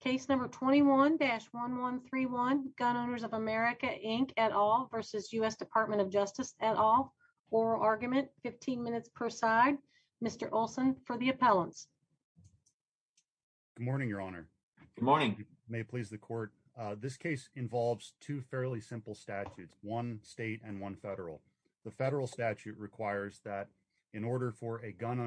Case number 21-1131 Gun Owners of America Inc. et al. versus U.S. Department of Justice et al. Oral argument, 15 minutes per side. Mr. Olson for the appellants. Good morning, Your Honor. Good morning. May it please the court. This case involves two fairly simple statutes, one state and one federal. The federal statute requires that in order for a gun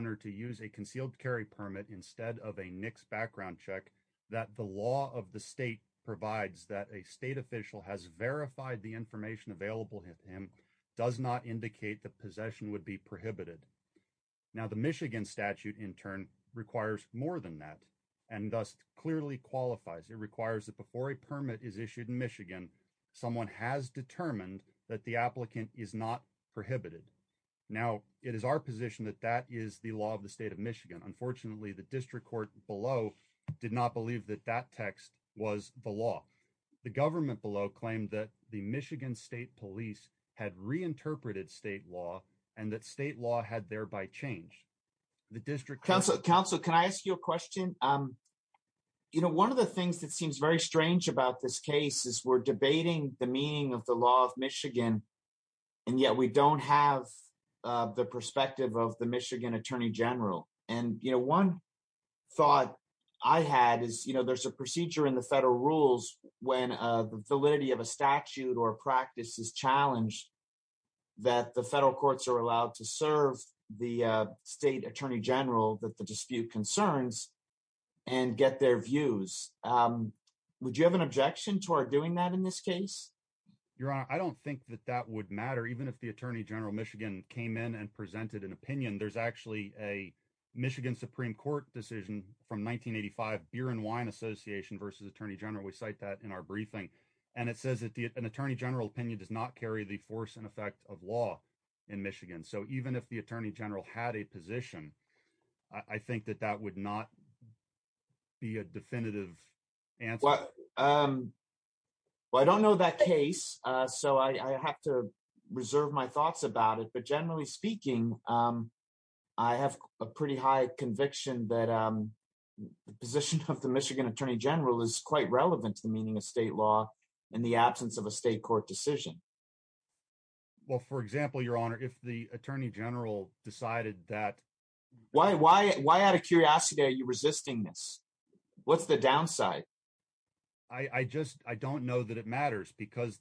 law of the state provides that a state official has verified the information available to him does not indicate that possession would be prohibited. Now, the Michigan statute in turn requires more than that and thus clearly qualifies. It requires that before a permit is issued in Michigan, someone has determined that the applicant is not prohibited. Now, it is our position that that is the law of the state of Michigan. Unfortunately, the district court below did not believe that that text was the law. The government below claimed that the Michigan State Police had reinterpreted state law and that state law had thereby changed. Counsel, can I ask you a question? You know, one of the things that seems very strange about this case is we're debating the meaning of the law of Michigan and yet we don't have the perspective of the Michigan Attorney General. And, you know, one thought I had is, you know, there's a procedure in the federal rules when the validity of a statute or practice is challenged that the federal courts are allowed to serve the state attorney general that the dispute concerns and get their views. Would you have an objection toward doing that in this case? Your Honor, I don't think that that would matter. Even if the Attorney General of Michigan came in and presented an opinion, there's actually a Michigan Supreme Court decision from 1985, Beer and Wine Association versus Attorney General. We cite that in our briefing and it says that an attorney general opinion does not carry the force and effect of law in Michigan. So, even if the Attorney General had a position, I think that that would not be a definitive answer. Well, I don't know that case, so I have to reserve my thoughts about it. But generally speaking, I have a pretty high conviction that the position of the Michigan Attorney General is quite relevant to the meaning of state law in the absence of a state court decision. Well, for example, Your Honor, if the Attorney General decided that... Why out of what's the downside? I don't know that it matters because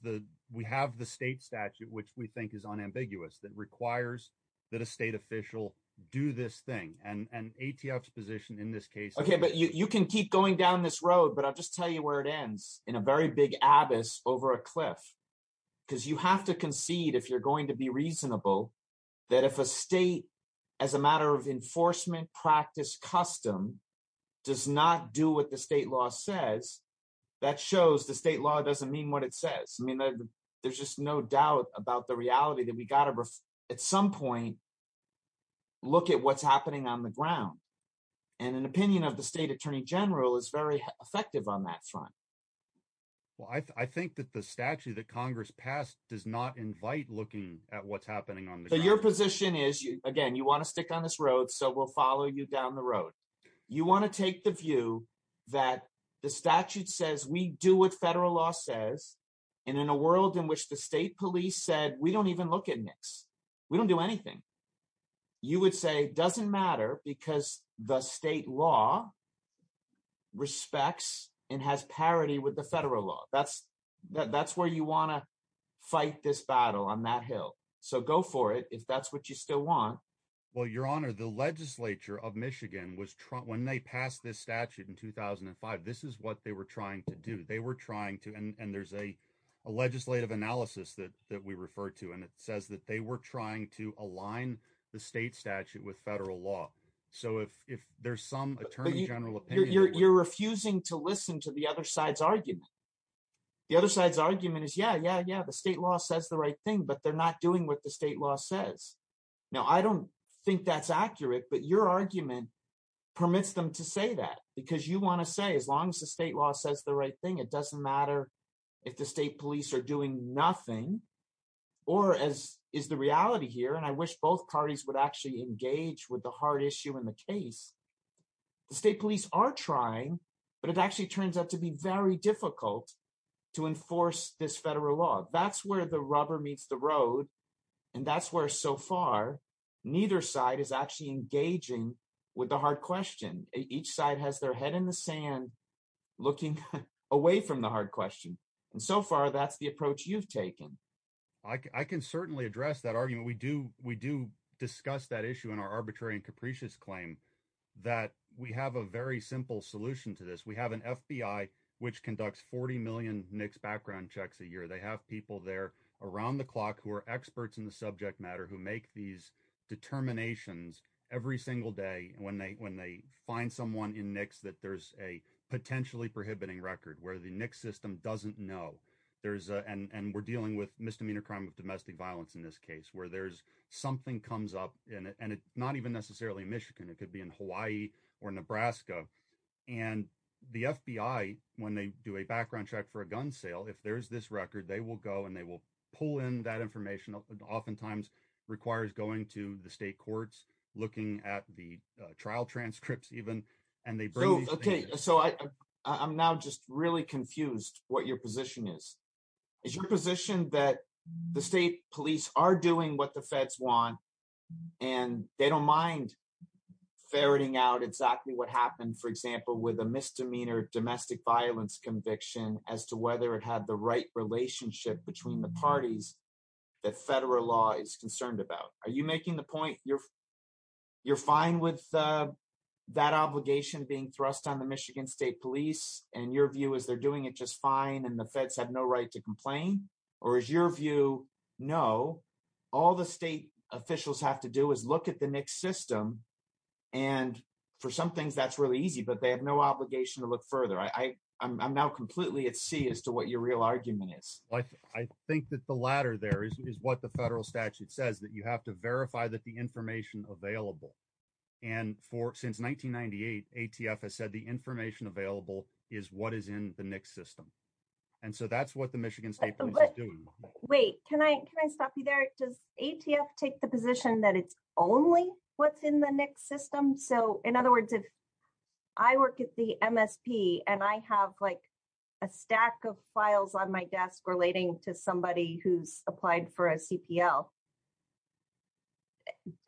we have the state statute, which we think is unambiguous that requires that a state official do this thing. And ATF's position in this case... Okay, but you can keep going down this road, but I'll just tell you where it ends in a very big abyss over a cliff. Because you have to concede if you're going to be reasonable that if a state, as a matter of enforcement practice custom, does not do what the state law says, that shows the state law doesn't mean what it says. I mean, there's just no doubt about the reality that we got to, at some point, look at what's happening on the ground. And an opinion of the State Attorney General is very effective on that front. Well, I think that the statute that your position is, again, you want to stick on this road, so we'll follow you down the road. You want to take the view that the statute says we do what federal law says. And in a world in which the state police said, we don't even look at NICS. We don't do anything. You would say doesn't matter because the state law respects and has parity with the federal law. That's where you want to fight this battle on that hill. So go for it, if that's what you still want. Well, your honor, the legislature of Michigan, when they passed this statute in 2005, this is what they were trying to do. They were trying to, and there's a legislative analysis that we refer to, and it says that they were trying to align the state statute with federal law. So if there's some Attorney General opinion... You're refusing to listen to the other side's argument. The other side's argument is, yeah, yeah, yeah, the state law says the right thing, but they're not doing what the state law says. Now, I don't think that's accurate, but your argument permits them to say that because you want to say as long as the state law says the right thing, it doesn't matter if the state police are doing nothing or as is the reality here, and I wish both parties would actually engage with the hard issue in the case. The state police are trying, but it actually turns out to be very difficult to enforce this federal law. That's where the rubber meets the road, and that's where so far neither side is actually engaging with the hard question. Each side has their head in the sand looking away from the hard question, and so far that's the approach you've taken. I can certainly address that argument. We do discuss that issue in our arbitrary and capricious claim that we have a very simple solution to this. We have an FBI which conducts 40 million NICS background checks a year. They have people there around the clock who are experts in the subject matter who make these determinations every single day when they find someone in NICS that there's a potentially prohibiting record where the NICS system doesn't know, and we're dealing with misdemeanor crime of domestic violence in this case where something comes up, and it's not necessarily in Michigan. It could be in Hawaii or Nebraska, and the FBI, when they do a background check for a gun sale, if there's this record, they will go and they will pull in that information. Oftentimes, it requires going to the state courts, looking at the trial transcripts even, and they bring these things. Okay, so I'm now just really confused what your position is. Is your position that the state police are doing what the feds want, and they don't mind ferreting out exactly what happened, for example, with a misdemeanor domestic violence conviction as to whether it had the right relationship between the parties that federal law is concerned about? Are you making the point you're fine with that obligation being thrust on the Michigan state police, and your view is they're doing it just fine, and the feds have no right to complain, or is your view, no, all the state officials have to do is look at the NICS system, and for some things, that's really easy, but they have no obligation to look further. I'm now completely at sea as to what your real argument is. I think that the latter there is what the federal statute says, that you have to verify that the information available, and since 1998, ATF has said the information available is what is in the NICS system, and so that's what the Michigan state police is doing. Wait, can I stop you there? Does ATF take the position that it's only what's in the NICS system? So in other words, if I work at the MSP, and I have like a stack of files on my desk relating to somebody who's applied for a CPL,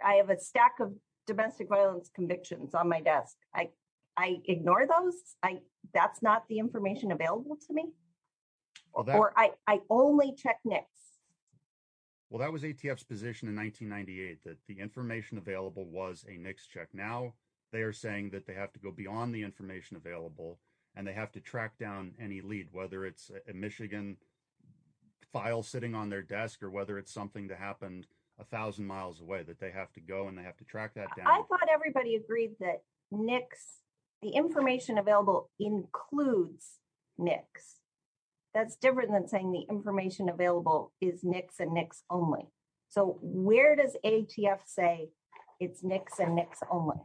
I have a stack of domestic violence convictions on my desk. I ignore those. That's not the information available to me, or I only check NICS. Well, that was ATF's position in 1998, that the information available was a NICS check. Now, they are saying that they have to go beyond the information available, and they have to track down any lead, whether it's a Michigan file sitting on their desk, or whether it's something that happened a thousand miles away, that they have to go, and they have to track that down. I thought everybody agreed that NICS, the information available includes NICS. That's different than saying the information available is NICS and NICS only. So where does ATF say it's NICS and NICS only?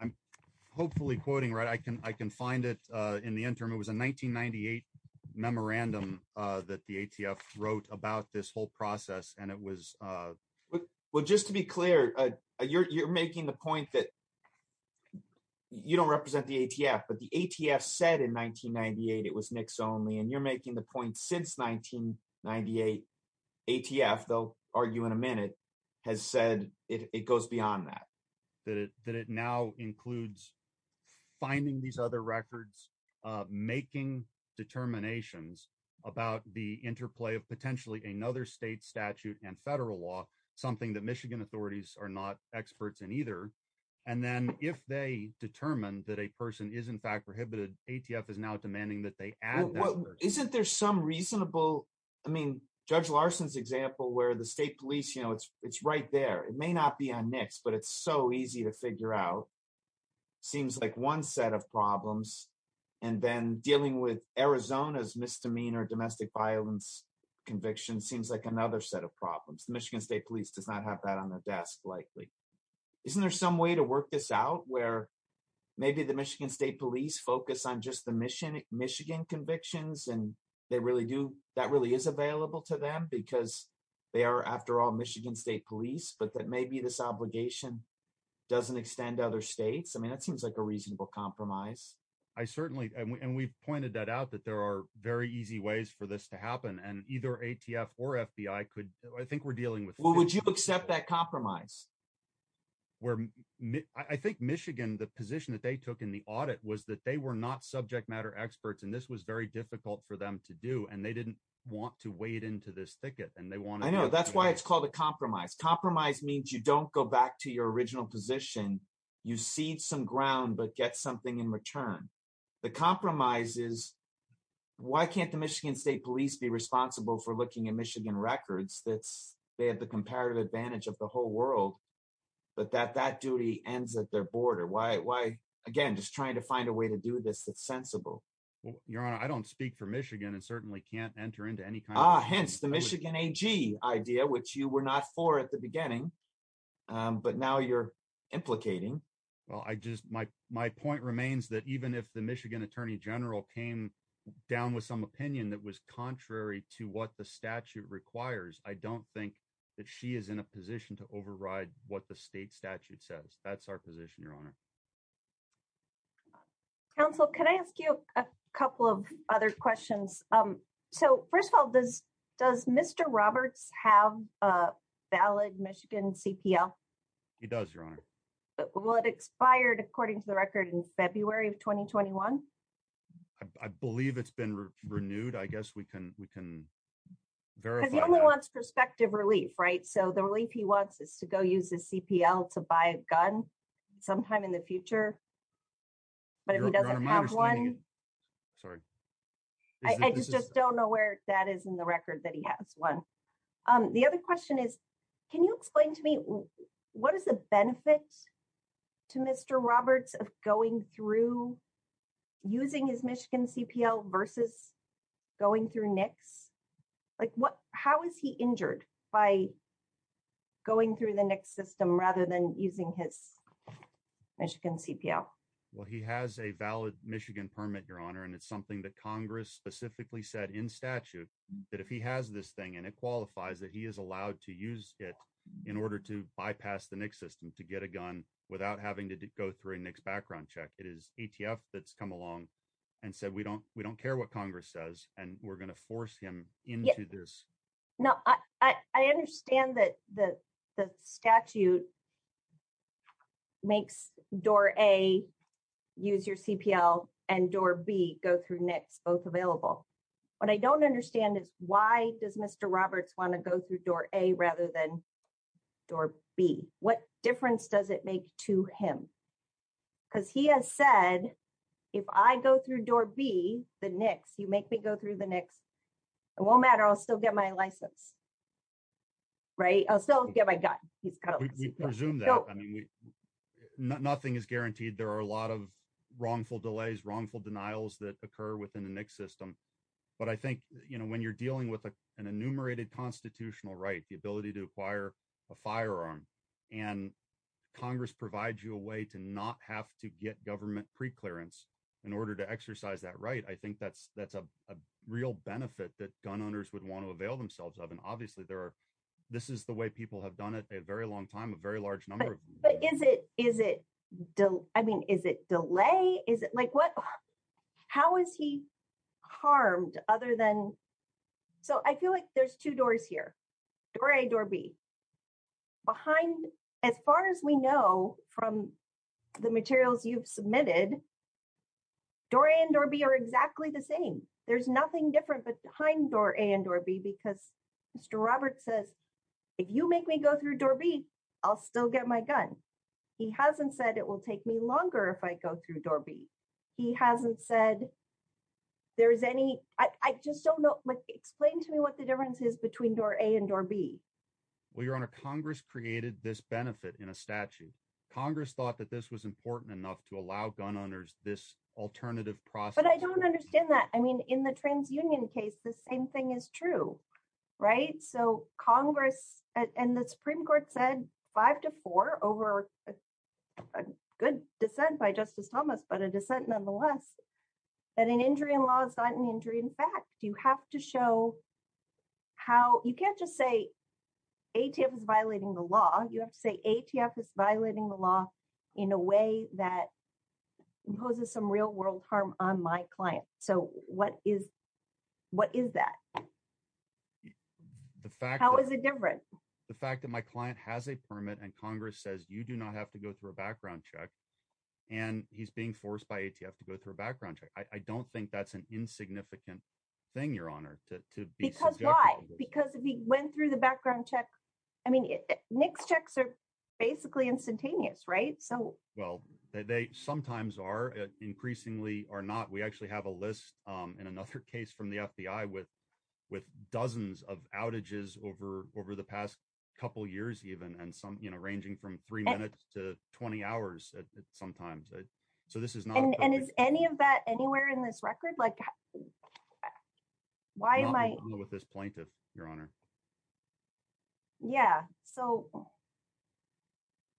I'm hopefully quoting right. I can find it in the interim. It was a 1998 memorandum that the ATF wrote about this whole process, and it was... Well, just to be clear, you're making the point that you don't represent the ATF, but the ATF said in 1998 it was NICS only, and you're making the point since 1998. ATF, they'll argue in a minute, has said it goes beyond that. That it now includes finding these other records, making determinations about the interplay of potentially another state statute and federal law, something that Michigan authorities are not experts in either. And then if they determine that a person is in fact prohibited, ATF is now demanding that they add that person. Isn't there some reasonable... I mean, Judge Larson's example where the state police, it's right there. It may not be on NICS, but it's so easy to figure out. Seems like one set of problems. And then dealing with Arizona's misdemeanor domestic violence conviction seems like another set of problems. The Michigan State Police does not have that on their desk likely. Isn't there some way to work this out where maybe the Michigan State Police focus on just the Michigan convictions, and that really is available to them because they are, after all, Michigan State Police, but that maybe this obligation doesn't extend to other states? I mean, that seems like a reasonable compromise. I certainly... And we've pointed that out, that there are very easy ways for this to happen. And either ATF or FBI could... I think we're dealing with... Well, would you accept that compromise? I think Michigan, the position that they took in the audit was that they were not subject matter experts, and this was very difficult for them to do. And they didn't want to wade into this thicket. And they wanted... I know. That's why it's called a compromise. Compromise means you don't go back to your position. You cede some ground, but get something in return. The compromise is, why can't the Michigan State Police be responsible for looking at Michigan records that they have the comparative advantage of the whole world, but that that duty ends at their border? Why? Again, just trying to find a way to do this that's sensible. Well, Your Honor, I don't speak for Michigan and certainly can't enter into any kind of... Ah, hence the Michigan AG idea, which you were not for at the beginning. But now you're implicating. Well, my point remains that even if the Michigan Attorney General came down with some opinion that was contrary to what the statute requires, I don't think that she is in a position to override what the state statute says. That's our position, Your Honor. Counsel, can I ask you a couple of other questions? So first of all, does Mr. Roberts have a valid Michigan CPL? He does, Your Honor. Will it expired according to the record in February of 2021? I believe it's been renewed. I guess we can verify that. Because he only wants prospective relief, right? So the relief he wants is to go use his CPL to buy a gun sometime in the future. But if he doesn't have one... You're understanding it. Sorry. I just don't know where that is in the record that he has one. The other question is, can you explain to me what is the benefit to Mr. Roberts of going through using his Michigan CPL versus going through NICS? How is he injured by going through the NICS system rather than using his Michigan CPL? Well, he has a valid Michigan permit, Your Honor. And it's something that Congress specifically said in statute that if he has this thing and it qualifies that he is allowed to use it in order to bypass the NICS system to get a gun without having to go through a NICS background check. It is ATF that's come along and said, we don't care what Congress says and we're going to force him into this. No, I understand that the statute makes door A use your CPL and door B go through NICS, both available. What I don't understand is why does Mr. Roberts want to go through door A rather than door B? What difference does it make to him? Because he has said, if I go through door B, the NICS, you make me go through the NICS, it won't matter. I'll still get my license. Right? I'll still get my gun. Nothing is guaranteed. There are a lot of wrongful delays, wrongful denials that occur within the NICS system. But I think when you're dealing with an enumerated constitutional right, the ability to acquire a firearm and Congress provides you a way to not have to get government preclearance in order to exercise that right, I think that's a real benefit that gun owners would want to avail themselves of. And obviously there are, this is the way people have done it a very long time, a very large number. But is it, is it, I mean, is it delay? Is it like what, how is he harmed other than, so I feel like there's two doors here, door A, door B. Behind, as far as we know from the materials you've submitted, door A and door B are exactly the same. There's nothing different behind door A and door B because Mr. Roberts says, if you make me go through door B, I'll still get my gun. He hasn't said it will take me longer if I go through door B. He hasn't said there's any, I just don't know, explain to me what the difference is between door A and door B. Well, Your Honor, Congress created this benefit in a statute. Congress thought that this was this alternative process. But I don't understand that. I mean, in the trans union case, the same thing is true, right? So Congress and the Supreme Court said five to four over a good dissent by Justice Thomas, but a dissent nonetheless, that an injury in law is not an injury. In fact, you have to show how, you can't just say ATF is violating the law. You have to say ATF is violating the law in a way that imposes some real world harm on my client. So what is that? How is it different? The fact that my client has a permit and Congress says, you do not have to go through a background check and he's being forced by ATF to go through a background check. I don't think that's an insignificant thing, Your Honor, to be subjective. Because why? Because if he went through the background check, I mean, next checks are basically instantaneous, right? So, well, they sometimes are increasingly or not. We actually have a list in another case from the FBI with dozens of outages over the past couple of years, even, and some ranging from three minutes to 20 hours sometimes. So this is not- And is any of that anywhere in this record? Like why am I- Not with this plaintiff, Your Honor. Yeah. So,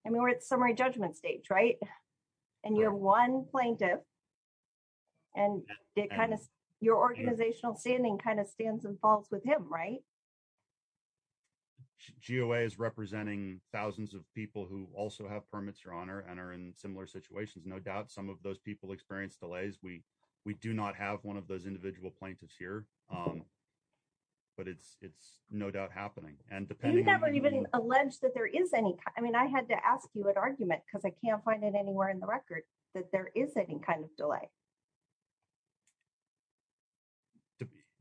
I mean, we're at summary judgment stage, right? And you have one plaintiff and it kind of- your organizational standing kind of stands and falls with him, right? GOA is representing thousands of people who also have permits, Your Honor, and are in similar situations. No doubt some of those people experience delays. We do not have one of those no doubt happening. And depending on- You never even allege that there is any- I mean, I had to ask you an argument because I can't find it anywhere in the record that there is any kind of delay.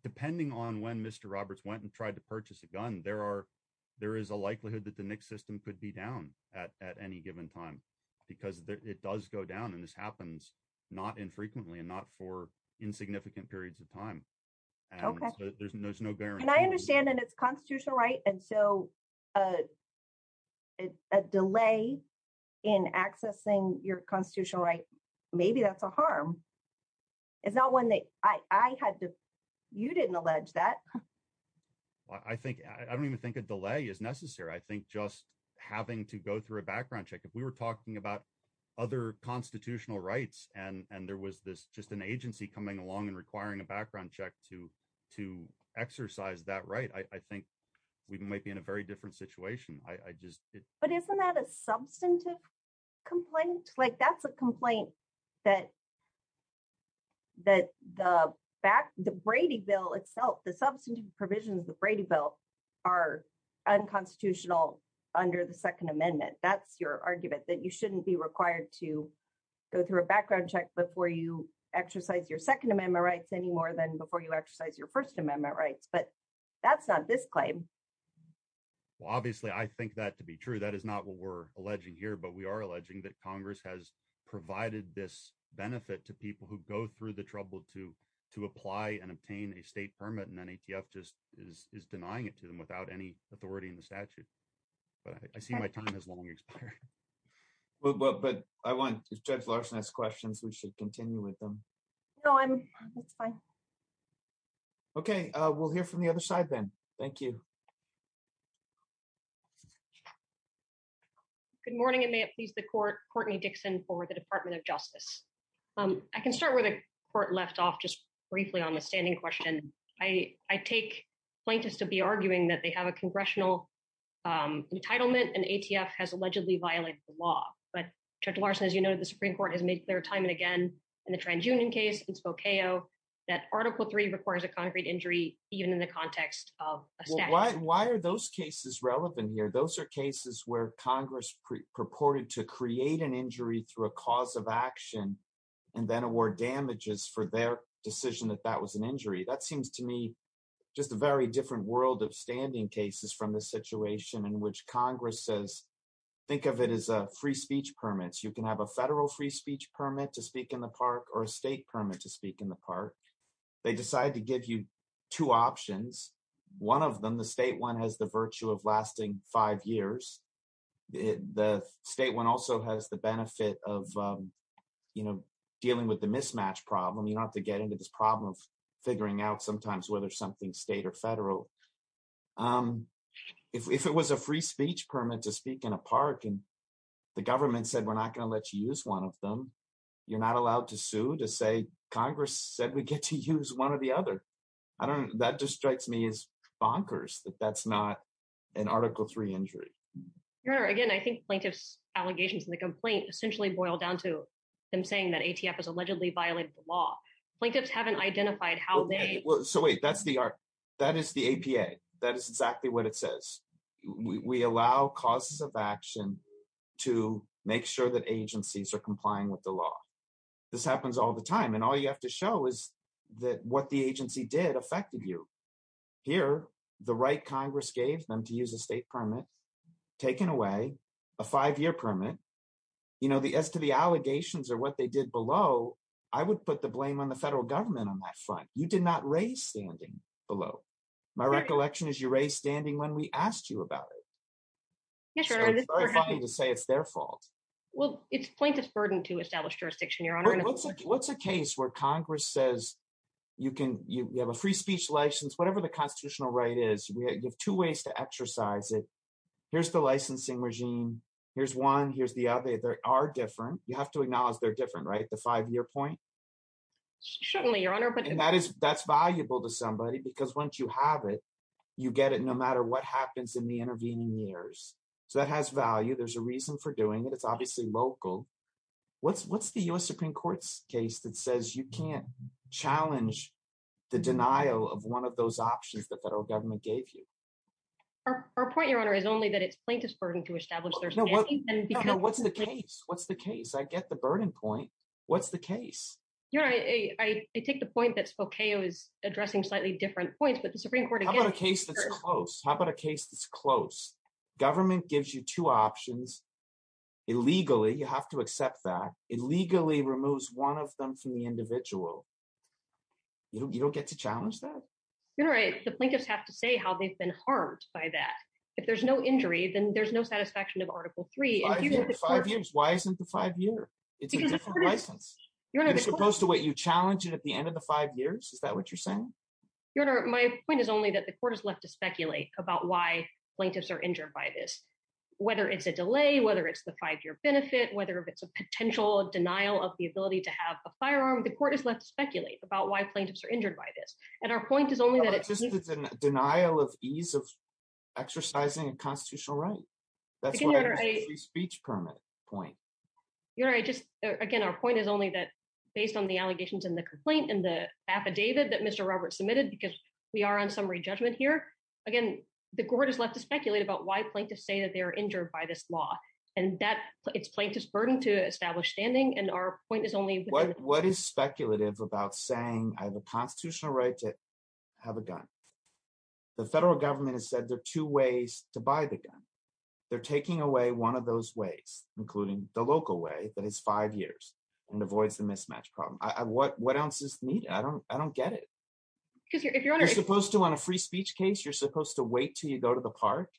Depending on when Mr. Roberts went and tried to purchase a gun, there is a likelihood that the NICS system could be down at any given time because it does go down. And this happens not infrequently and not for insignificant periods of time. Okay. There's no bearing. I understand that it's constitutional right. And so, a delay in accessing your constitutional right, maybe that's a harm. It's not one that- I had to- you didn't allege that. I think- I don't even think a delay is necessary. I think just having to go through a background check. If we were talking about other constitutional rights and there was just an right, I think we might be in a very different situation. I just- But isn't that a substantive complaint? That's a complaint that the Brady Bill itself, the substantive provisions of the Brady Bill are unconstitutional under the Second Amendment. That's your argument that you shouldn't be required to go through a background check before you exercise your Second Amendment rights any more than before you exercise your First Amendment. That's not this claim. Well, obviously, I think that to be true. That is not what we're alleging here. But we are alleging that Congress has provided this benefit to people who go through the trouble to apply and obtain a state permit and then ATF just is denying it to them without any authority in the statute. But I see my time has long expired. But I want- Judge Larson has questions. We should continue with them. No, I'm- it's fine. Okay. We'll hear from the other side then. Thank you. Good morning. It may have pleased the Court. Courtney Dixon for the Department of Justice. I can start where the Court left off just briefly on the standing question. I take plaintiffs to be arguing that they have a congressional entitlement and ATF has allegedly violated the law. But Judge Larson, as you know, the Supreme Court has made clear time and again in the TransUnion case, in Spokane, that Article III requires a concrete injury even in the context of a statute. Well, why are those cases relevant here? Those are cases where Congress purported to create an injury through a cause of action and then award damages for their decision that that was an injury. That seems to me just a very different world of standing cases from the situation in which Congress says, think of it as a free speech permit. You can have a state permit to speak in the park. They decide to give you two options. One of them, the state one has the virtue of lasting five years. The state one also has the benefit of, you know, dealing with the mismatch problem. You don't have to get into this problem of figuring out sometimes whether something's state or federal. If it was a free speech permit to speak in a park and the government said, we're not going to let you use one of them, you're not allowed to sue to say Congress said we get to use one or the other. I don't, that just strikes me as bonkers that that's not an Article III injury. Your Honor, again, I think plaintiff's allegations in the complaint essentially boil down to them saying that ATF has allegedly violated the law. Plaintiffs haven't identified how they... So wait, that's the, that is the APA. That is exactly what it says. We allow causes of action to make sure that agencies are complying with the law. This happens all the time. And all you have to show is that what the agency did affected you. Here, the right Congress gave them to use a state permit, taken away a five-year permit. You know, as to the allegations or what they did below, I would put the blame on the federal government on that front. You did not raise standing below. My recollection is you raised standing when we asked you about it. Yes, Your Honor. It's very funny to say it's their fault. Well, it's plaintiff's burden to establish jurisdiction, Your Honor. What's a case where Congress says you can, you have a free speech license, whatever the constitutional right is, you have two ways to exercise it. Here's the licensing regime. Here's one, here's the other. They are different. You have to acknowledge they're different, right? The five-year point? Certainly, Your Honor. And that's valuable to somebody because once you have it, you get it no matter what happens in the intervening years. So that has value. There's a reason for doing it. It's obviously local. What's the U.S. Supreme Court's case that says you can't challenge the denial of one of those options the federal government gave you? Our point, Your Honor, is only that it's plaintiff's burden to establish their standing. No, what's the case? What's the case? I get the burden point. What's the case? Your Honor, I take the point that Spokeo is addressing slightly different points, but the Supreme Court again... How about a case that's close? How about a case that's close? Government gives you two options. Illegally, you have to accept that. It legally removes one of them from the individual. You don't get to challenge that? You're right. The plaintiffs have to say how they've been harmed by that. If there's no injury, then there's no satisfaction of Article 3. Five years? Why isn't it five years? It's a different license. It's supposed to let you challenge it at the end of the five years? Is that what you're saying? Your Honor, my point is only that the court is left to speculate about why plaintiffs are injured by this. Whether it's a delay, whether it's the five-year benefit, whether it's a potential denial of the ability to have a firearm, the court is left to speculate about why plaintiffs are injured by this. And our point is only that... It's just a denial of ease of exercising a speech permit point. Your Honor, again, our point is only that based on the allegations and the complaint and the affidavit that Mr. Roberts submitted, because we are on summary judgment here, again, the court is left to speculate about why plaintiffs say that they are injured by this law. And it's plaintiff's burden to establish standing. And our point is only... What is speculative about saying I have a constitutional right to have a gun? The federal government has said there are two ways to buy the gun. They're taking away one of those ways, including the local way that is five years and avoids the mismatch problem. What else is needed? I don't get it. You're supposed to, on a free speech case, you're supposed to wait till you go to the park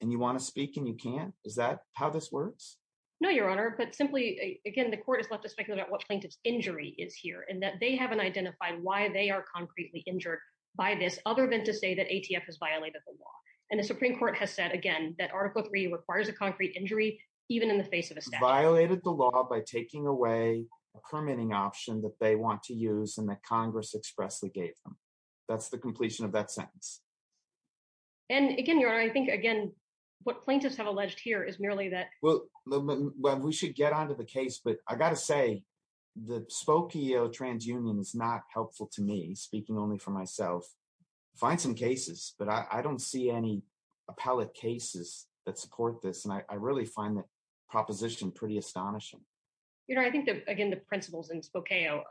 and you want to speak and you can't? Is that how this works? No, Your Honor. But simply, again, the court is left to speculate about what plaintiff's injury is here and that they haven't identified why they are concretely injured by this other than to say that ATF has violated the law. And the Supreme Court has said, again, that Article III requires a concrete injury even in the face of a statute. Violated the law by taking away a permitting option that they want to use and that Congress expressly gave them. That's the completion of that sentence. And again, Your Honor, I think, again, what plaintiffs have alleged here is the Spokio Transunion is not helpful to me, speaking only for myself. I find some cases, but I don't see any appellate cases that support this. And I really find that proposition pretty astonishing. Your Honor, I think that, again, the principles in Spokio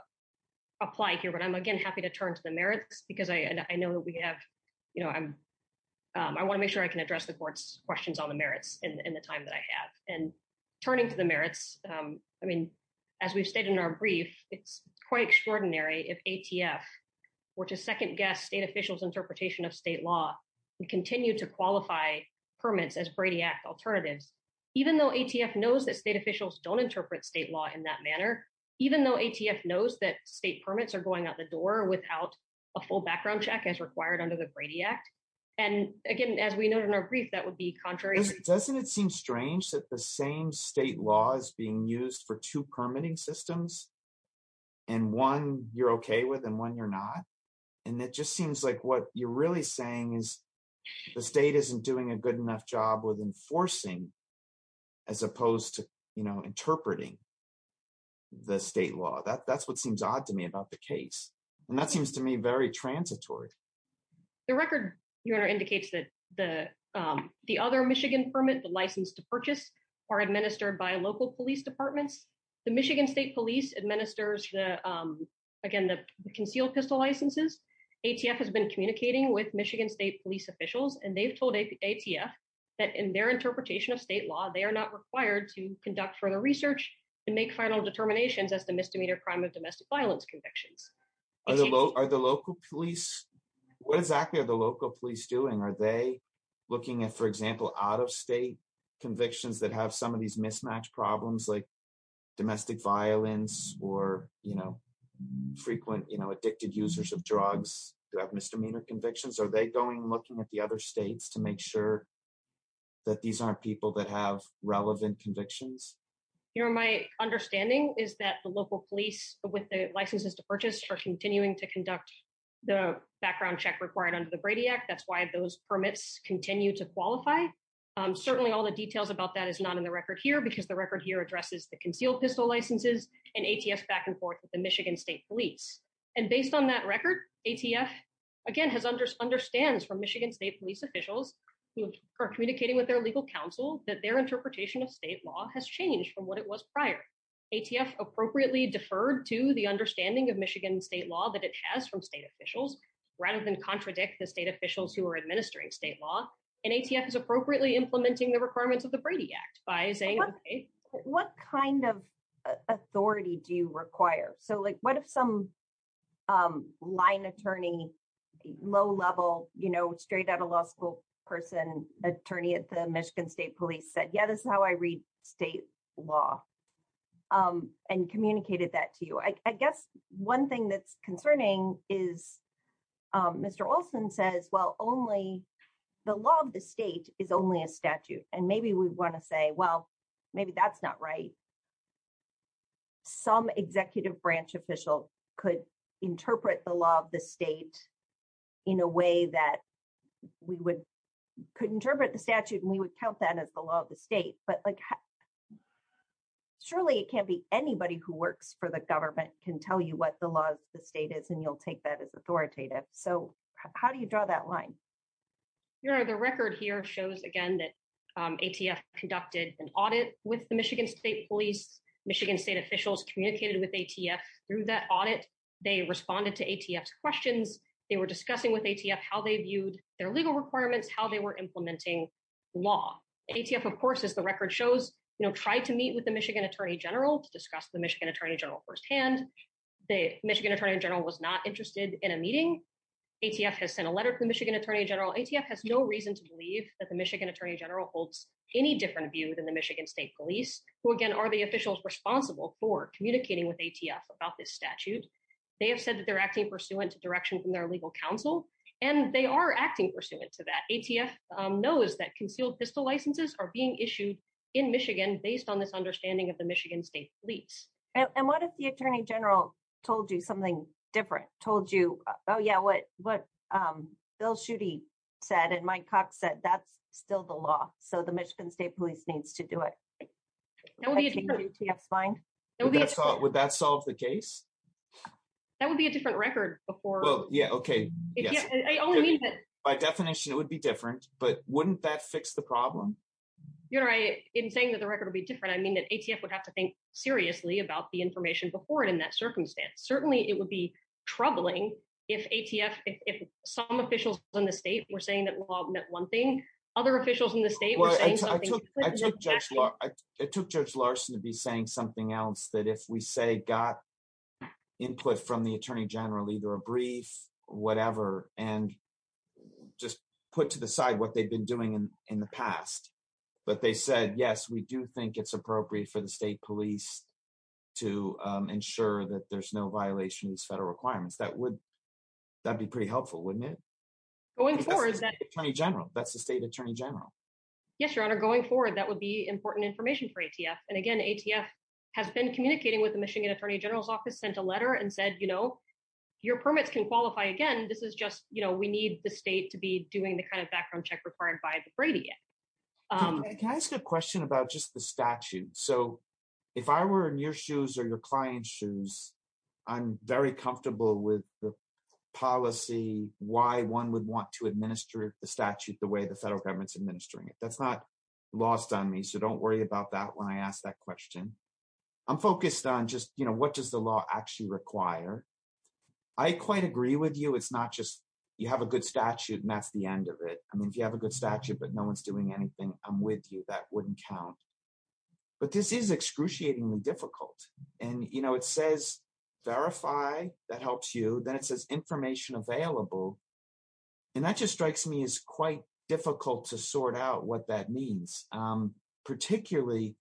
apply here, but I'm, again, happy to turn to the merits because I know that we have... I want to make sure I can address the court's questions on the merits in the time that I have. And turning to the merits, I mean, as we've stated in our brief, it's quite extraordinary if ATF were to second-guess state officials' interpretation of state law and continue to qualify permits as Brady Act alternatives, even though ATF knows that state officials don't interpret state law in that manner, even though ATF knows that state permits are going out the door without a full background check as required under the Brady Act. And again, as we noted in our brief, that would be contrary... used for two permitting systems, and one you're okay with and one you're not. And it just seems like what you're really saying is the state isn't doing a good enough job with enforcing as opposed to interpreting the state law. That's what seems odd to me about the case. And that seems to me very transitory. The record, Your Honor, indicates that the other Michigan permit, the license to purchase, are administered by local police departments. The Michigan state police administers, again, the concealed pistol licenses. ATF has been communicating with Michigan state police officials, and they've told ATF that in their interpretation of state law, they are not required to conduct further research and make final determinations as to misdemeanor crime of domestic violence convictions. Are the local police... what exactly are the local police doing? Are they looking at, for example, out-of-state convictions that have some of these mismatched problems like domestic violence or frequent addicted users of drugs who have misdemeanor convictions? Are they going and looking at the other states to make sure that these aren't people that have relevant convictions? Your Honor, my understanding is that the local police, with the licenses to purchase, are continuing to qualify. Certainly, all the details about that is not in the record here because the record here addresses the concealed pistol licenses and ATF back and forth with the Michigan state police. And based on that record, ATF, again, understands from Michigan state police officials who are communicating with their legal counsel that their interpretation of state law has changed from what it was prior. ATF appropriately deferred to the understanding of Michigan state law that it and ATF is appropriately implementing the requirements of the Brady Act by saying... What kind of authority do you require? So, like, what if some line attorney, low level, you know, straight out of law school person, attorney at the Michigan state police said, yeah, this is how I read state law and communicated that to you. I guess one thing that's concerning is Mr. Olson says, well, only the law of the state is only a statute. And maybe we want to say, well, maybe that's not right. Some executive branch official could interpret the law of the state in a way that we could interpret the statute and we would count that as the law of the state. But surely it can't be anybody who works for the government can tell you what the law of the state is and you'll take that as authoritative. So how do you draw that line? The record here shows, again, that ATF conducted an audit with the Michigan state police, Michigan state officials communicated with ATF through that audit. They responded to ATF's questions. They were discussing with ATF how they viewed their legal requirements, how they were implementing law. ATF, of course, as the record shows, you know, tried to meet with the Michigan attorney general firsthand. The Michigan attorney general was not interested in a meeting. ATF has sent a letter to the Michigan attorney general. ATF has no reason to believe that the Michigan attorney general holds any different view than the Michigan state police, who again, are the officials responsible for communicating with ATF about this statute. They have said that they're acting pursuant to direction from their legal counsel, and they are acting pursuant to that. ATF knows that concealed pistol licenses are being issued in Michigan based on this And what if the attorney general told you something different, told you, oh yeah, what Bill Schuette said and Mike Cox said, that's still the law. So the Michigan state police needs to do it. Would that solve the case? That would be a different record before. By definition, it would be different, but wouldn't that fix the problem? In saying that the record will be different, I mean that ATF would have to think seriously about the information before it in that circumstance. Certainly it would be troubling if ATF, if some officials in the state were saying that law meant one thing, other officials in the state were saying something different. It took Judge Larson to be saying something else, that if we say got input from the attorney general, either a brief, whatever, and just put to the side what they've been doing in the past, but they said, yes, we do think it's appropriate for the state police to ensure that there's no violation of these federal requirements. That would, that'd be pretty helpful, wouldn't it? Going forward. That's the state attorney general. That's the state attorney general. Yes, your honor, going forward, that would be important information for ATF. And again, ATF has been communicating with the Michigan attorney general's office, sent a letter and said, you know, your permits can qualify again. This is just, you know, we need the state to be doing the kind of Can I ask a question about just the statute? So if I were in your shoes or your client's shoes, I'm very comfortable with the policy, why one would want to administer the statute the way the federal government's administering it. That's not lost on me. So don't worry about that when I asked that question. I'm focused on just, you know, what does the law actually require? I quite agree with you. It's not just, you have a good statute and that's the end of it. I mean, have a good statute, but no one's doing anything. I'm with you. That wouldn't count. But this is excruciatingly difficult. And, you know, it says, verify that helps you. Then it says information available. And that just strikes me as quite difficult to sort out what that means, particularly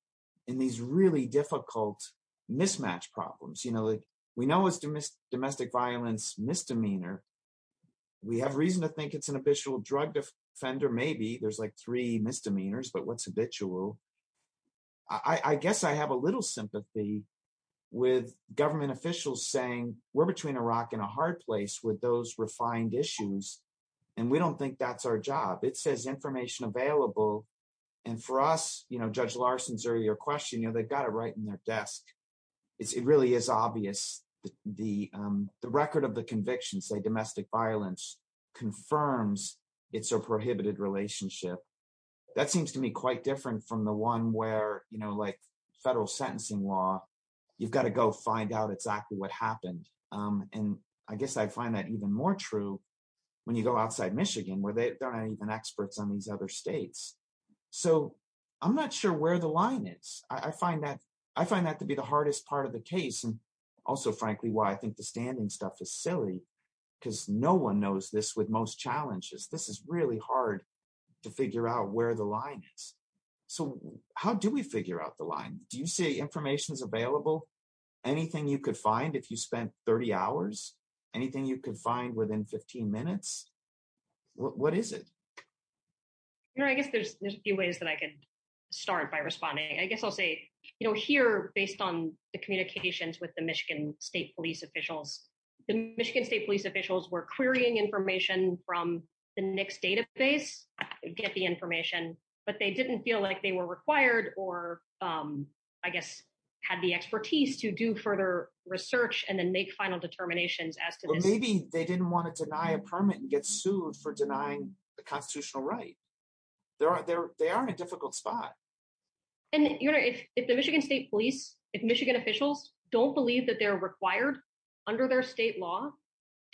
in these really difficult mismatch problems. You know, we know it's domestic violence misdemeanor. We have reason to think it's an habitual drug defender. Maybe there's like three misdemeanors, but what's habitual. I guess I have a little sympathy with government officials saying we're between a rock and a hard place with those refined issues. And we don't think that's our job. It says information available. And for us, you know, Judge Larson's earlier question, you know, they've got it right in their desk. It really is obvious. The record of the conviction, say domestic violence, confirms it's a prohibited relationship. That seems to me quite different from the one where, you know, like federal sentencing law, you've got to go find out exactly what happened. And I guess I find that even more true when you go outside Michigan, where they're not even experts on these other states. So I'm not sure where the line is. I find that I find that to be the hardest part of the case. And also, frankly, why I think the standing stuff is silly, because no one knows this with most challenges. This is really hard to figure out where the line is. So how do we figure out the line? Do you see information is available? Anything you could find if you spent 30 hours? Anything you could find within 15 minutes? What is it? You know, I guess there's a few ways that I could start by responding. I guess I'll say, you know, here, based on the communications with the Michigan State Police officials, the Michigan State Police officials were querying information from the NICS database, get the information, but they didn't feel like they were required or, I guess, had the expertise to do further research and then make final determinations as to maybe they didn't want to deny a permit and sued for denying the constitutional right. They are in a difficult spot. And you know, if the Michigan State Police, if Michigan officials don't believe that they're required under their state law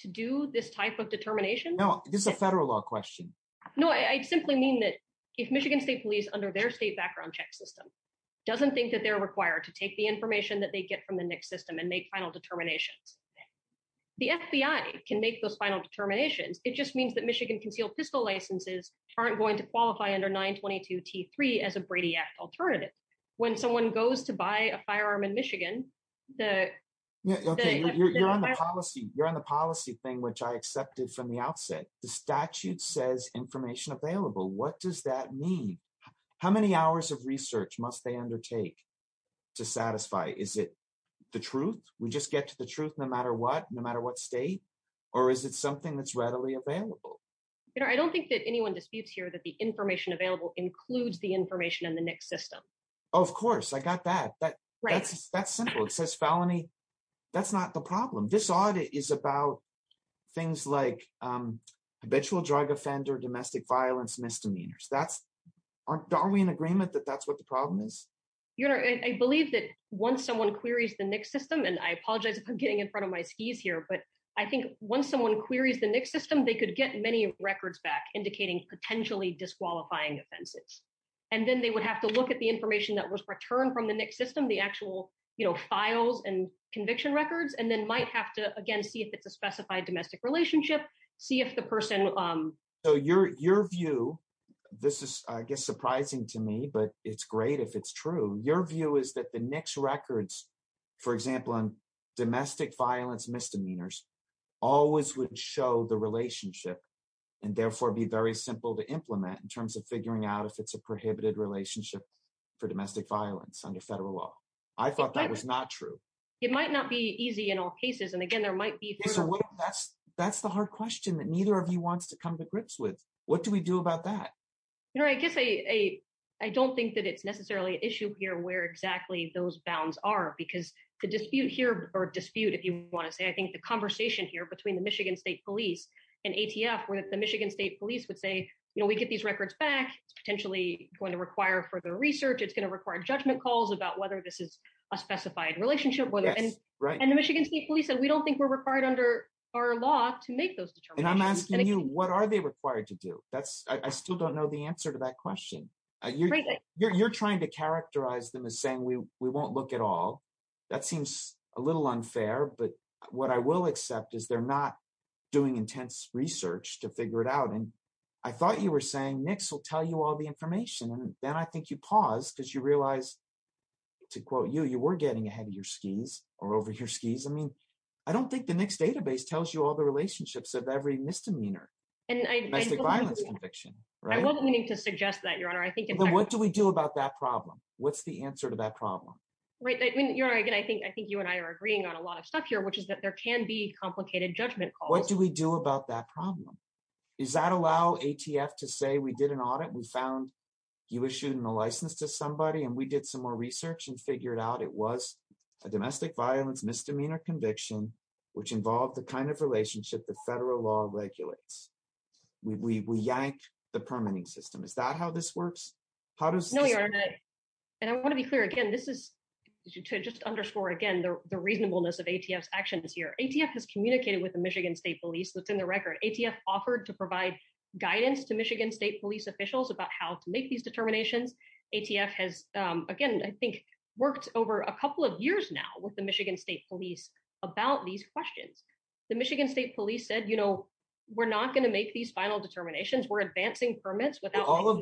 to do this type of determination... No, this is a federal law question. No, I simply mean that if Michigan State Police, under their state background check system, doesn't think that they're required to take the information that they get from the NICS system and make final determinations, the FBI can make those final determinations. It just means that Michigan concealed pistol licenses aren't going to qualify under 922 T3 as a Brady Act alternative. When someone goes to buy a firearm in Michigan, the... Okay, you're on the policy thing, which I accepted from the outset. The statute says information available. What does that mean? How many hours of research must they undertake to satisfy? Is it the truth? We just get to the truth no matter what, no matter what state? Or is it something that's readily available? I don't think that anyone disputes here that the information available includes the information in the NICS system. Of course, I got that. That's simple. It says felony. That's not the problem. This audit is about things like habitual drug offender, domestic violence, misdemeanors. Are we in agreement that that's what the problem is? I believe that once someone queries the NICS system, and I apologize if I'm getting in front of my skis here, but I think once someone queries the NICS system, they could get many records back indicating potentially disqualifying offenses. Then they would have to look at the information that was returned from the NICS system, the actual files and conviction records, and then might have to, again, see if it's a specified domestic relationship, see if the person... Your view, this is, I guess, surprising to me, but it's great if it's true. Your view is that the NICS records, for example, on domestic violence misdemeanors always would show the relationship and therefore be very simple to implement in terms of figuring out if it's a prohibited relationship for domestic violence under federal law. I thought that was not true. It might not be easy in all cases. Again, there might be... That's the hard question that neither of you wants to come to grips with. What do we do about that? I guess I don't think that it's necessarily an issue here where exactly those bounds are, because the dispute here, or dispute, if you want to say, I think the conversation here between the Michigan State Police and ATF, where the Michigan State Police would say, we get these records back, it's potentially going to require further research, it's going to require judgment calls about whether this is a specified relationship, and the Michigan State Police said, we don't think required under our law to make those determinations. And I'm asking you, what are they required to do? I still don't know the answer to that question. You're trying to characterize them as saying, we won't look at all. That seems a little unfair, but what I will accept is they're not doing intense research to figure it out, and I thought you were saying NICS will tell you all the information, and then I think you paused because you realized, to quote you, you were getting ahead of your skis, or over your skis. I mean, I don't think the NICS database tells you all the relationships of every misdemeanor, domestic violence conviction. I wasn't meaning to suggest that, Your Honor. What do we do about that problem? What's the answer to that problem? Right, Your Honor, again, I think you and I are agreeing on a lot of stuff here, which is that there can be complicated judgment calls. What do we do about that problem? Does that allow ATF to say, we did an audit, we found you issued a license to somebody, and we did some more research and it was a domestic violence misdemeanor conviction, which involved the kind of relationship the federal law regulates. We yank the permitting system. Is that how this works? No, Your Honor, and I want to be clear, again, this is to just underscore, again, the reasonableness of ATF's actions here. ATF has communicated with the Michigan State Police. That's in the record. ATF offered to provide guidance to Michigan State Police officials about how to make these determinations. ATF has, again, I think, worked over a couple of years now with the Michigan State Police about these questions. The Michigan State Police said, you know, we're not going to make these final determinations. We're advancing permits without... All of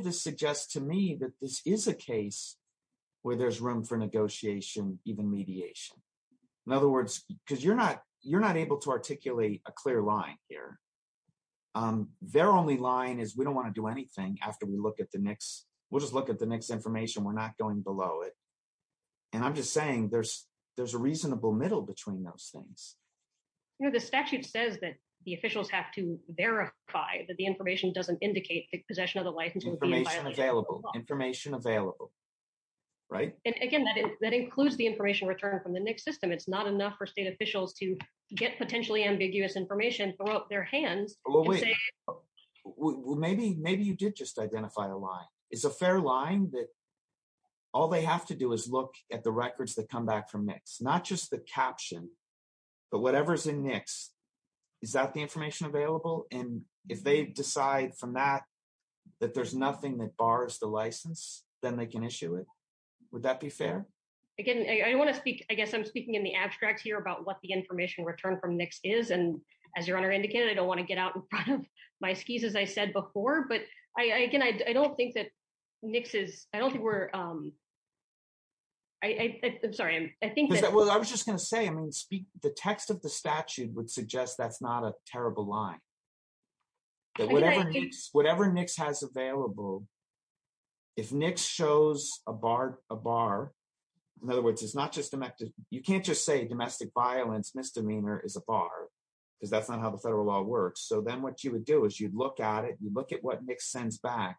this suggests to me that this is a case where there's room for negotiation, even mediation. In other words, because you're not able to articulate a clear line here. Their only line is, we don't want to do anything after we look at the NICS. We'll just look at the NICS information. We're not going below it. And I'm just saying there's a reasonable middle between those things. You know, the statute says that the officials have to verify that the information doesn't indicate the possession of the license. Information available, information available, right? And again, that includes the information returned from the NICS system. It's not enough for state officials to get potentially ambiguous information, throw up their hands. Well, maybe you did just identify a line. Is a fair line that all they have to do is look at the records that come back from NICS, not just the caption, but whatever's in NICS. Is that the information available? And if they decide from that, that there's nothing that bars the license, then they can issue it. Would that be fair? Again, I want to speak, I guess I'm speaking in the abstract here about what the information returned from NICS is. And as your Honor indicated, I don't want to get out in front of my skis, as I said before, but I, again, I don't think that NICS is, I don't think we're, I'm sorry. I think that. Well, I was just going to say, I mean, the text of the statute would suggest that's not a terrible line. That whatever NICS has available, if NICS shows a bar, in other words, it's not just, you can't just say domestic violence misdemeanor is a bar because that's not how the federal law works. So then what you would do is you'd look at it, you'd look at what NICS sends back.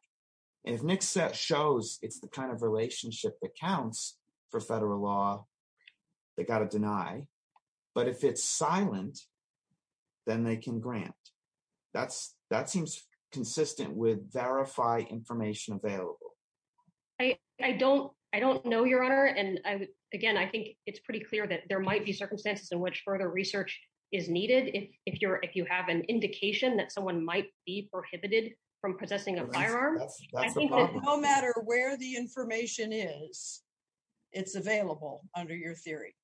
If NICS shows it's the kind of relationship that counts for federal law, they got to deny. But if it's silent, then they can grant. That's, that seems consistent with verify information available. I don't, I don't know your Honor. And is needed. If you're, if you have an indication that someone might be prohibited from possessing a firearm, no matter where the information is, it's available under your theory.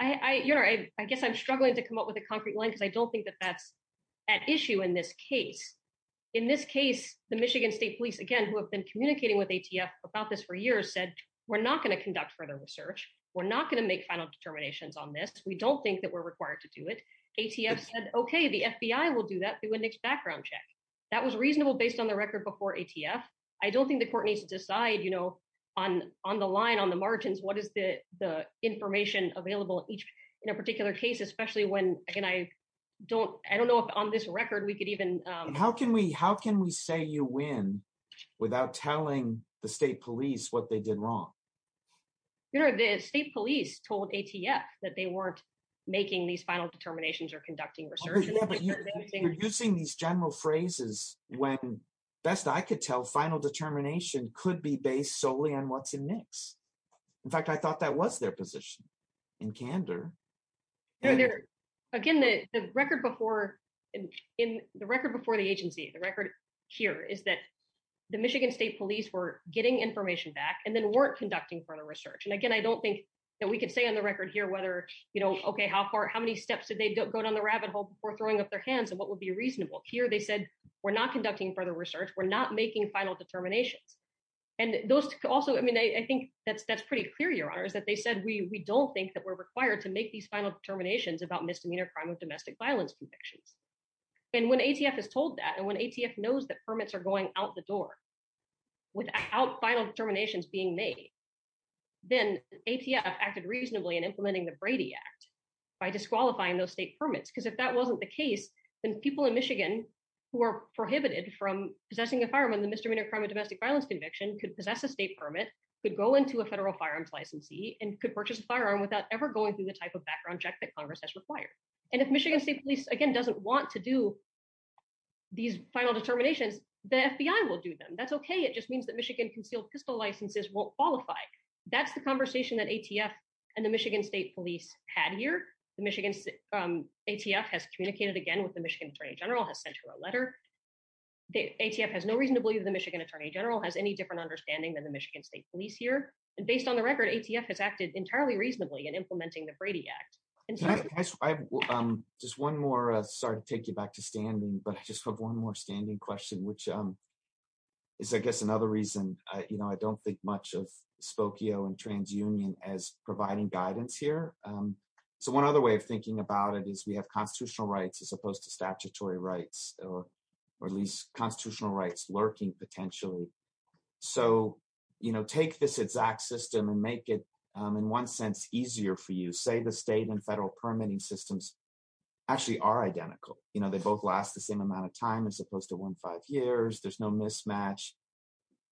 I, you know, I guess I'm struggling to come up with a concrete line because I don't think that that's at issue in this case. In this case, the Michigan state police, again, who have been communicating with ATF about this for years said, we're not going to conduct further research. We're not going to make final determinations on this. We don't think that we're required to do it. ATF said, okay, the FBI will do that through a NICS background check. That was reasonable based on the record before ATF. I don't think the court needs to decide, you know, on, on the line, on the margins, what is the, the information available each in a particular case, especially when, again, I don't, I don't know if on this record we could even. How can we, how can we say win without telling the state police what they did wrong? You know, the state police told ATF that they weren't making these final determinations or conducting research. You're using these general phrases when best I could tell final determination could be based solely on what's in NICS. In fact, I thought that was their position in candor. Again, the record before in, in the record before the agency, the record here is that the Michigan state police were getting information back and then weren't conducting further research. And again, I don't think that we can say on the record here, whether, you know, okay, how far, how many steps did they go down the rabbit hole before throwing up their hands and what would be reasonable here? They said we're not conducting further research. We're not making final determinations. And those also, I mean, I think that's, that's pretty clear. Your honor is that they said, we, we don't think that we're required to make these final determinations about misdemeanor crime of domestic violence convictions. And when ATF has told that, and when ATF knows that permits are going out the door without final determinations being made, then ATF acted reasonably in implementing the Brady Act by disqualifying those state permits. Because if that wasn't the case, then people in Michigan who are prohibited from possessing a firearm in the misdemeanor crime of domestic violence conviction could possess a state permit, could go into a federal firearms licensee, and could purchase a firearm without ever going through the type of background check that Congress has required. And if Michigan state police, again, doesn't want to do these final determinations, the FBI will do them. That's okay. It just means that Michigan concealed pistol licenses won't qualify. That's the conversation that ATF and the Michigan state police had here. The Michigan ATF has communicated again with the Michigan attorney general, has sent her a letter. ATF has no reason to believe the Michigan attorney general has any different understanding than the Michigan state police here. And based on the record, ATF has acted entirely reasonably in implementing the Brady Act. Just one more, sorry to take you back to standing, but I just have one more standing question, which is, I guess, another reason I don't think much of Spokio and TransUnion as providing guidance here. So one other way of thinking about it is we have constitutional rights as opposed to statutory rights, or at least constitutional rights lurking potentially. So take this exact system and make it, in one sense, easier for you. Say the state and federal permitting systems actually are identical. You know, they both last the same amount of time as opposed to one, five years. There's no mismatch.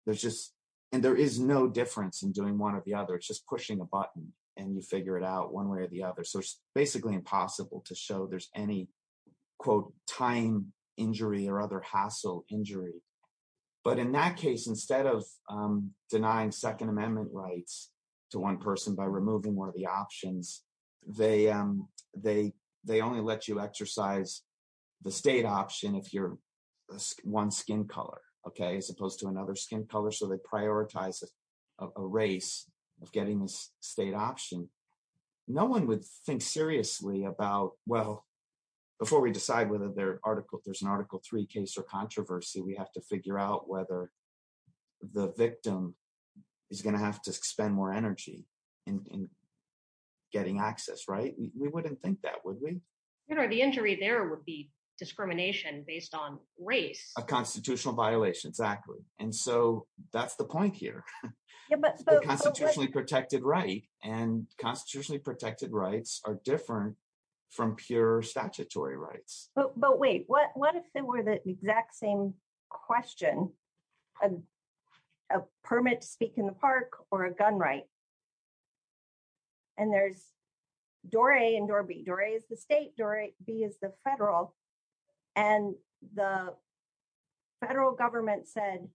There's just, and there is no difference in doing one or the other. It's just pushing a button and you figure it out one way or the other. So it's basically impossible to show there's any quote, time injury or other hassle injury. But in that case, instead of denying second rights to one person by removing one of the options, they only let you exercise the state option if you're one skin color, okay, as opposed to another skin color. So they prioritize a race of getting this state option. No one would think seriously about, well, before we decide whether there's an Article III case or controversy, we have to figure out whether the victim is going to have to spend more energy in getting access, right? We wouldn't think that, would we? You know, the injury there would be discrimination based on race. A constitutional violation, exactly. And so that's the point here. The constitutionally protected right and constitutionally protected rights are different from pure statutory rights. But wait, what if were the exact same question, a permit to speak in the park or a gun right? And there's door A and door B. Door A is the state, door B is the federal. And the federal government said,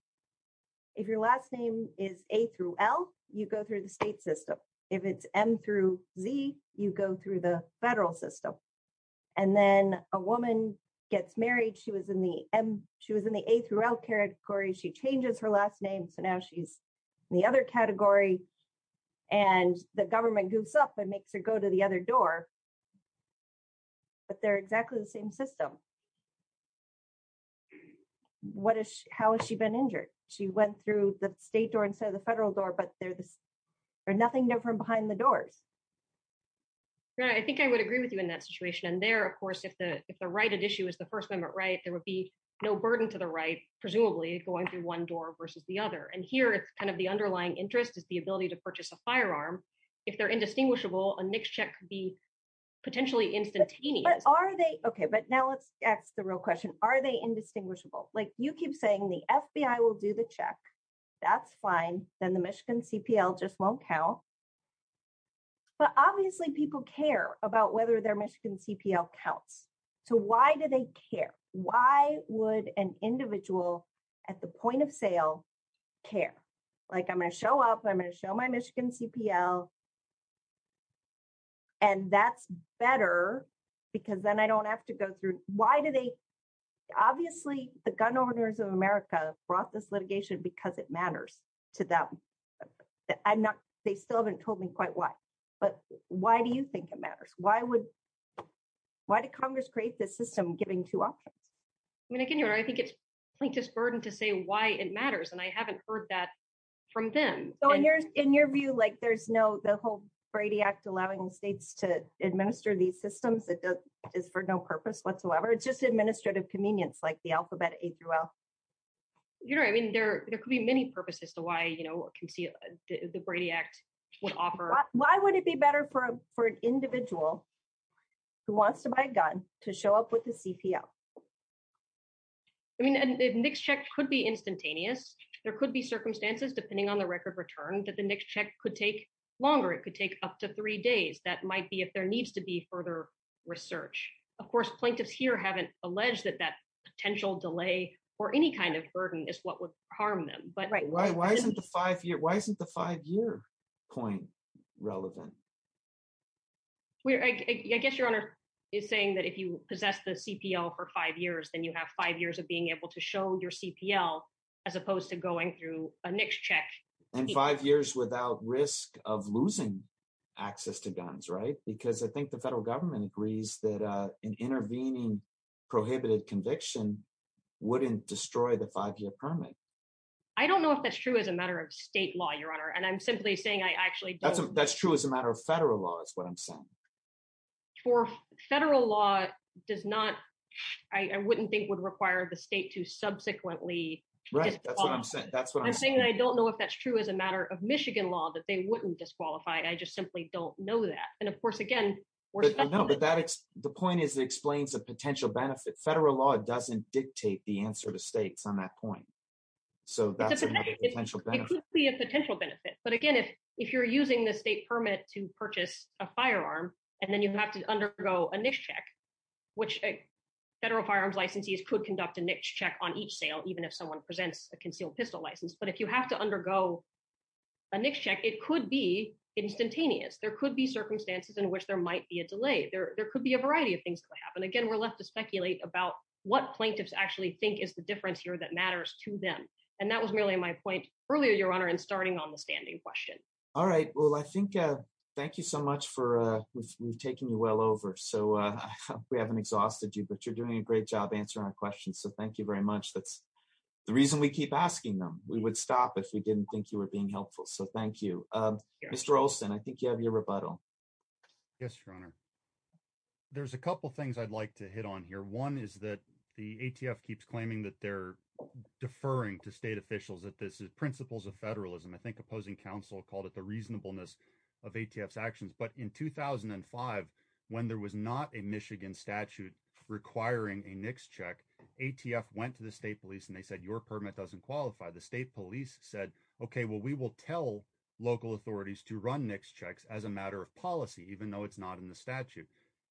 if your last name is A through L, you go through the state system. If it's M through Z, you go through the federal system. And then a woman gets married, and she was in the A through L category. She changes her last name, so now she's in the other category. And the government goofs up and makes her go to the other door. But they're exactly the same system. How has she been injured? She went through the state door instead of the federal door, but they're nothing different behind the doors. Yeah, I think I would agree with you in that situation. And there, of course, if the right issue is the First Amendment right, there would be no burden to the right, presumably going through one door versus the other. And here, it's kind of the underlying interest is the ability to purchase a firearm. If they're indistinguishable, a NICS check could be potentially instantaneous. But are they? OK, but now let's ask the real question. Are they indistinguishable? Like, you keep saying the FBI will do the check. That's fine. Then the Michigan CPL just won't count. But obviously, people care about whether their Michigan CPL counts. So why do they care? Why would an individual at the point of sale care? Like, I'm going to show up, I'm going to show my Michigan CPL. And that's better, because then I don't have to go through. Why do they? Obviously, the gun owners of America brought this litigation because it matters to them. I'm not, they still haven't told me quite why. But why do you think it matters? Why did Congress create this system giving two options? I mean, again, I think it's plaintiff's burden to say why it matters. And I haven't heard that from them. So in your view, like, there's no, the whole Brady Act allowing states to administer these systems is for no purpose whatsoever. It's just administrative convenience, like the alphabet A through L. You know, I mean, there could be many purposes to why the Brady Act would offer. Why would it be better for an individual who wants to buy a gun to show up with the CPL? I mean, a NICS check could be instantaneous. There could be circumstances, depending on the record return, that the NICS check could take longer, it could take up to three days. That might be if there needs to be further research. Of course, plaintiffs here haven't alleged that that potential delay or any kind of burden is what would harm them. But why isn't the five-year point relevant? I guess Your Honor is saying that if you possess the CPL for five years, then you have five years of being able to show your CPL as opposed to going through a NICS check. And five years without risk of losing access to guns, right? Because I think the federal government agrees that an intervening prohibited conviction wouldn't destroy the five-year permit. I don't know if that's true as a matter of state law, Your Honor. And I'm simply saying I actually don't. That's true as a matter of federal law is what I'm saying. For federal law does not, I wouldn't think would require the state to subsequently. Right. That's what I'm saying. That's what I'm saying. I don't know if that's true as a matter of Michigan law, that they wouldn't disqualify. I just simply don't know that. And of course, again, the point is it explains the potential benefit. Federal law doesn't dictate the answer to states on that point. So that's another potential benefit. It could be a potential benefit. But again, if you're using the state permit to purchase a firearm and then you have to undergo a NICS check, which a federal firearms licensee could conduct a NICS check on each sale, even if someone presents a concealed pistol license. But if you have to undergo a NICS check, it could be instantaneous. There could be circumstances in which there might be a delay. There could be a variety of things that could happen. Again, we're left to speculate about what plaintiffs actually think is the difference here that matters to them. And that was merely my point earlier, Your Honor, in starting on the standing question. All right. Well, I think thank you so much for we've taken you well over. So we haven't exhausted you, but you're doing a great job answering our questions. So thank you very much. That's the reason we keep asking them. We would stop if we didn't think you were being helpful. So thank you, Mr. Olson. I think you have your rebuttal. Yes, Your Honor. There's a couple of things I'd like to hit on here. One is that the ATF keeps claiming that they're deferring to state officials that this is principles of federalism. I think opposing counsel called it the reasonableness of ATF's actions. But in 2005, when there was not a Michigan statute requiring a NICS check, ATF went to the state police and they said, your permit doesn't qualify. The state police said, OK, well, we will tell local authorities to run NICS checks as a matter of policy, even though it's not in the statute.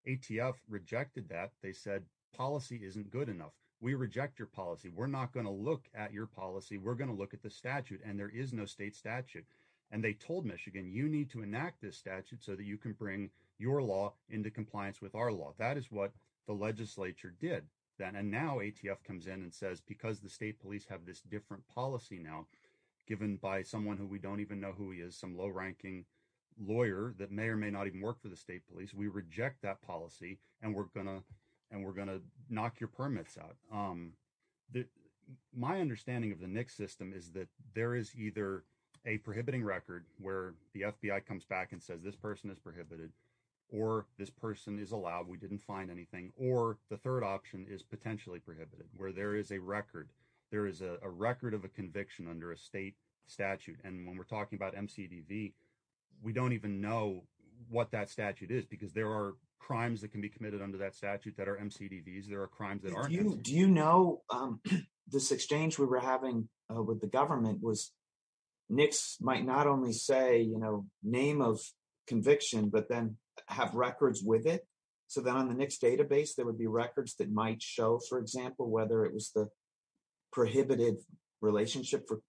ATF rejected that. They said policy isn't good enough. We reject your policy. We're not going to look at your policy. We're going to look at the statute. And there is no state statute. And they told Michigan, you need to enact this statute so that you can bring your law into compliance with our law. That is what the legislature did. And now ATF comes in and says, because the state police have this different policy now, given by someone who we don't even know who he is, some low-ranking lawyer that may or may not even work for the state police, we reject that policy. And we're going to knock your permits out. My understanding of the NICS system is that there is either a prohibiting record, where the FBI comes back and says, this person is prohibited, or this person is allowed. We didn't find anything. Or the third option is potentially prohibited, where there is a record. There is a record of a conviction under a state statute. And when we're talking about MCDV, we don't even know what that statute is, because there are MCDVs. There are crimes that aren't. Do you know this exchange we were having with the government was NICS might not only say name of conviction, but then have records with it. So then on the NICS database, there would be records that might show, for example, whether it was the prohibited relationship for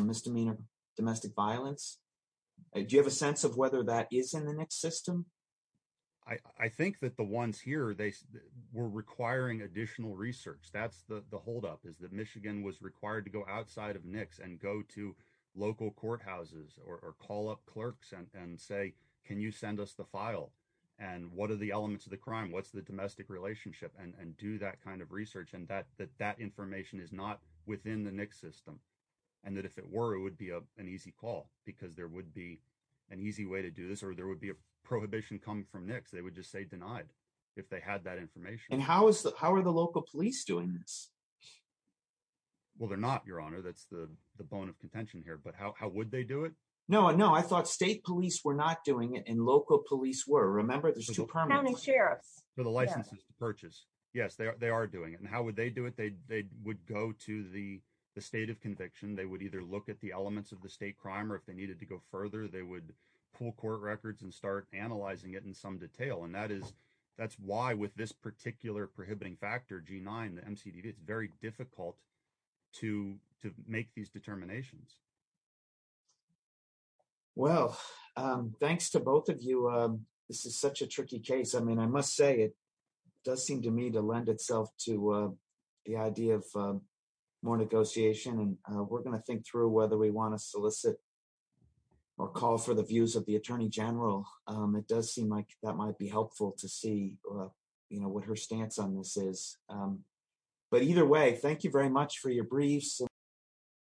misdemeanor domestic violence. Do you have a sense of whether that is in the NICS system? I think that the ones here, they were requiring additional research. That's the holdup is that Michigan was required to go outside of NICS and go to local courthouses or call up clerks and say, can you send us the file? And what are the elements of the crime? What's the domestic relationship? And do that kind of research. And that information is not within the NICS system. And that if it were, it would be an easy call, because there would be an easy way to do this, or there would be a prohibition coming from NICS. They would just say denied if they had that information. And how is that? How are the local police doing this? Well, they're not, your honor. That's the bone of contention here. But how would they do it? No, no. I thought state police were not doing it and local police were. Remember, there's two permanent sheriffs for the licenses to purchase. Yes, they are doing it. And how would they do it? They would go to the state of conviction. They would either look at the pool court records and start analyzing it in some detail. And that's why with this particular prohibiting factor, G9, the MCDV, it's very difficult to make these determinations. Well, thanks to both of you. This is such a tricky case. I mean, I must say it does seem to me to lend itself to the idea of more negotiation. And we're going to think whether we want to solicit or call for the views of the attorney general. It does seem like that might be helpful to see what her stance on this is. But either way, thank you very much for your briefs.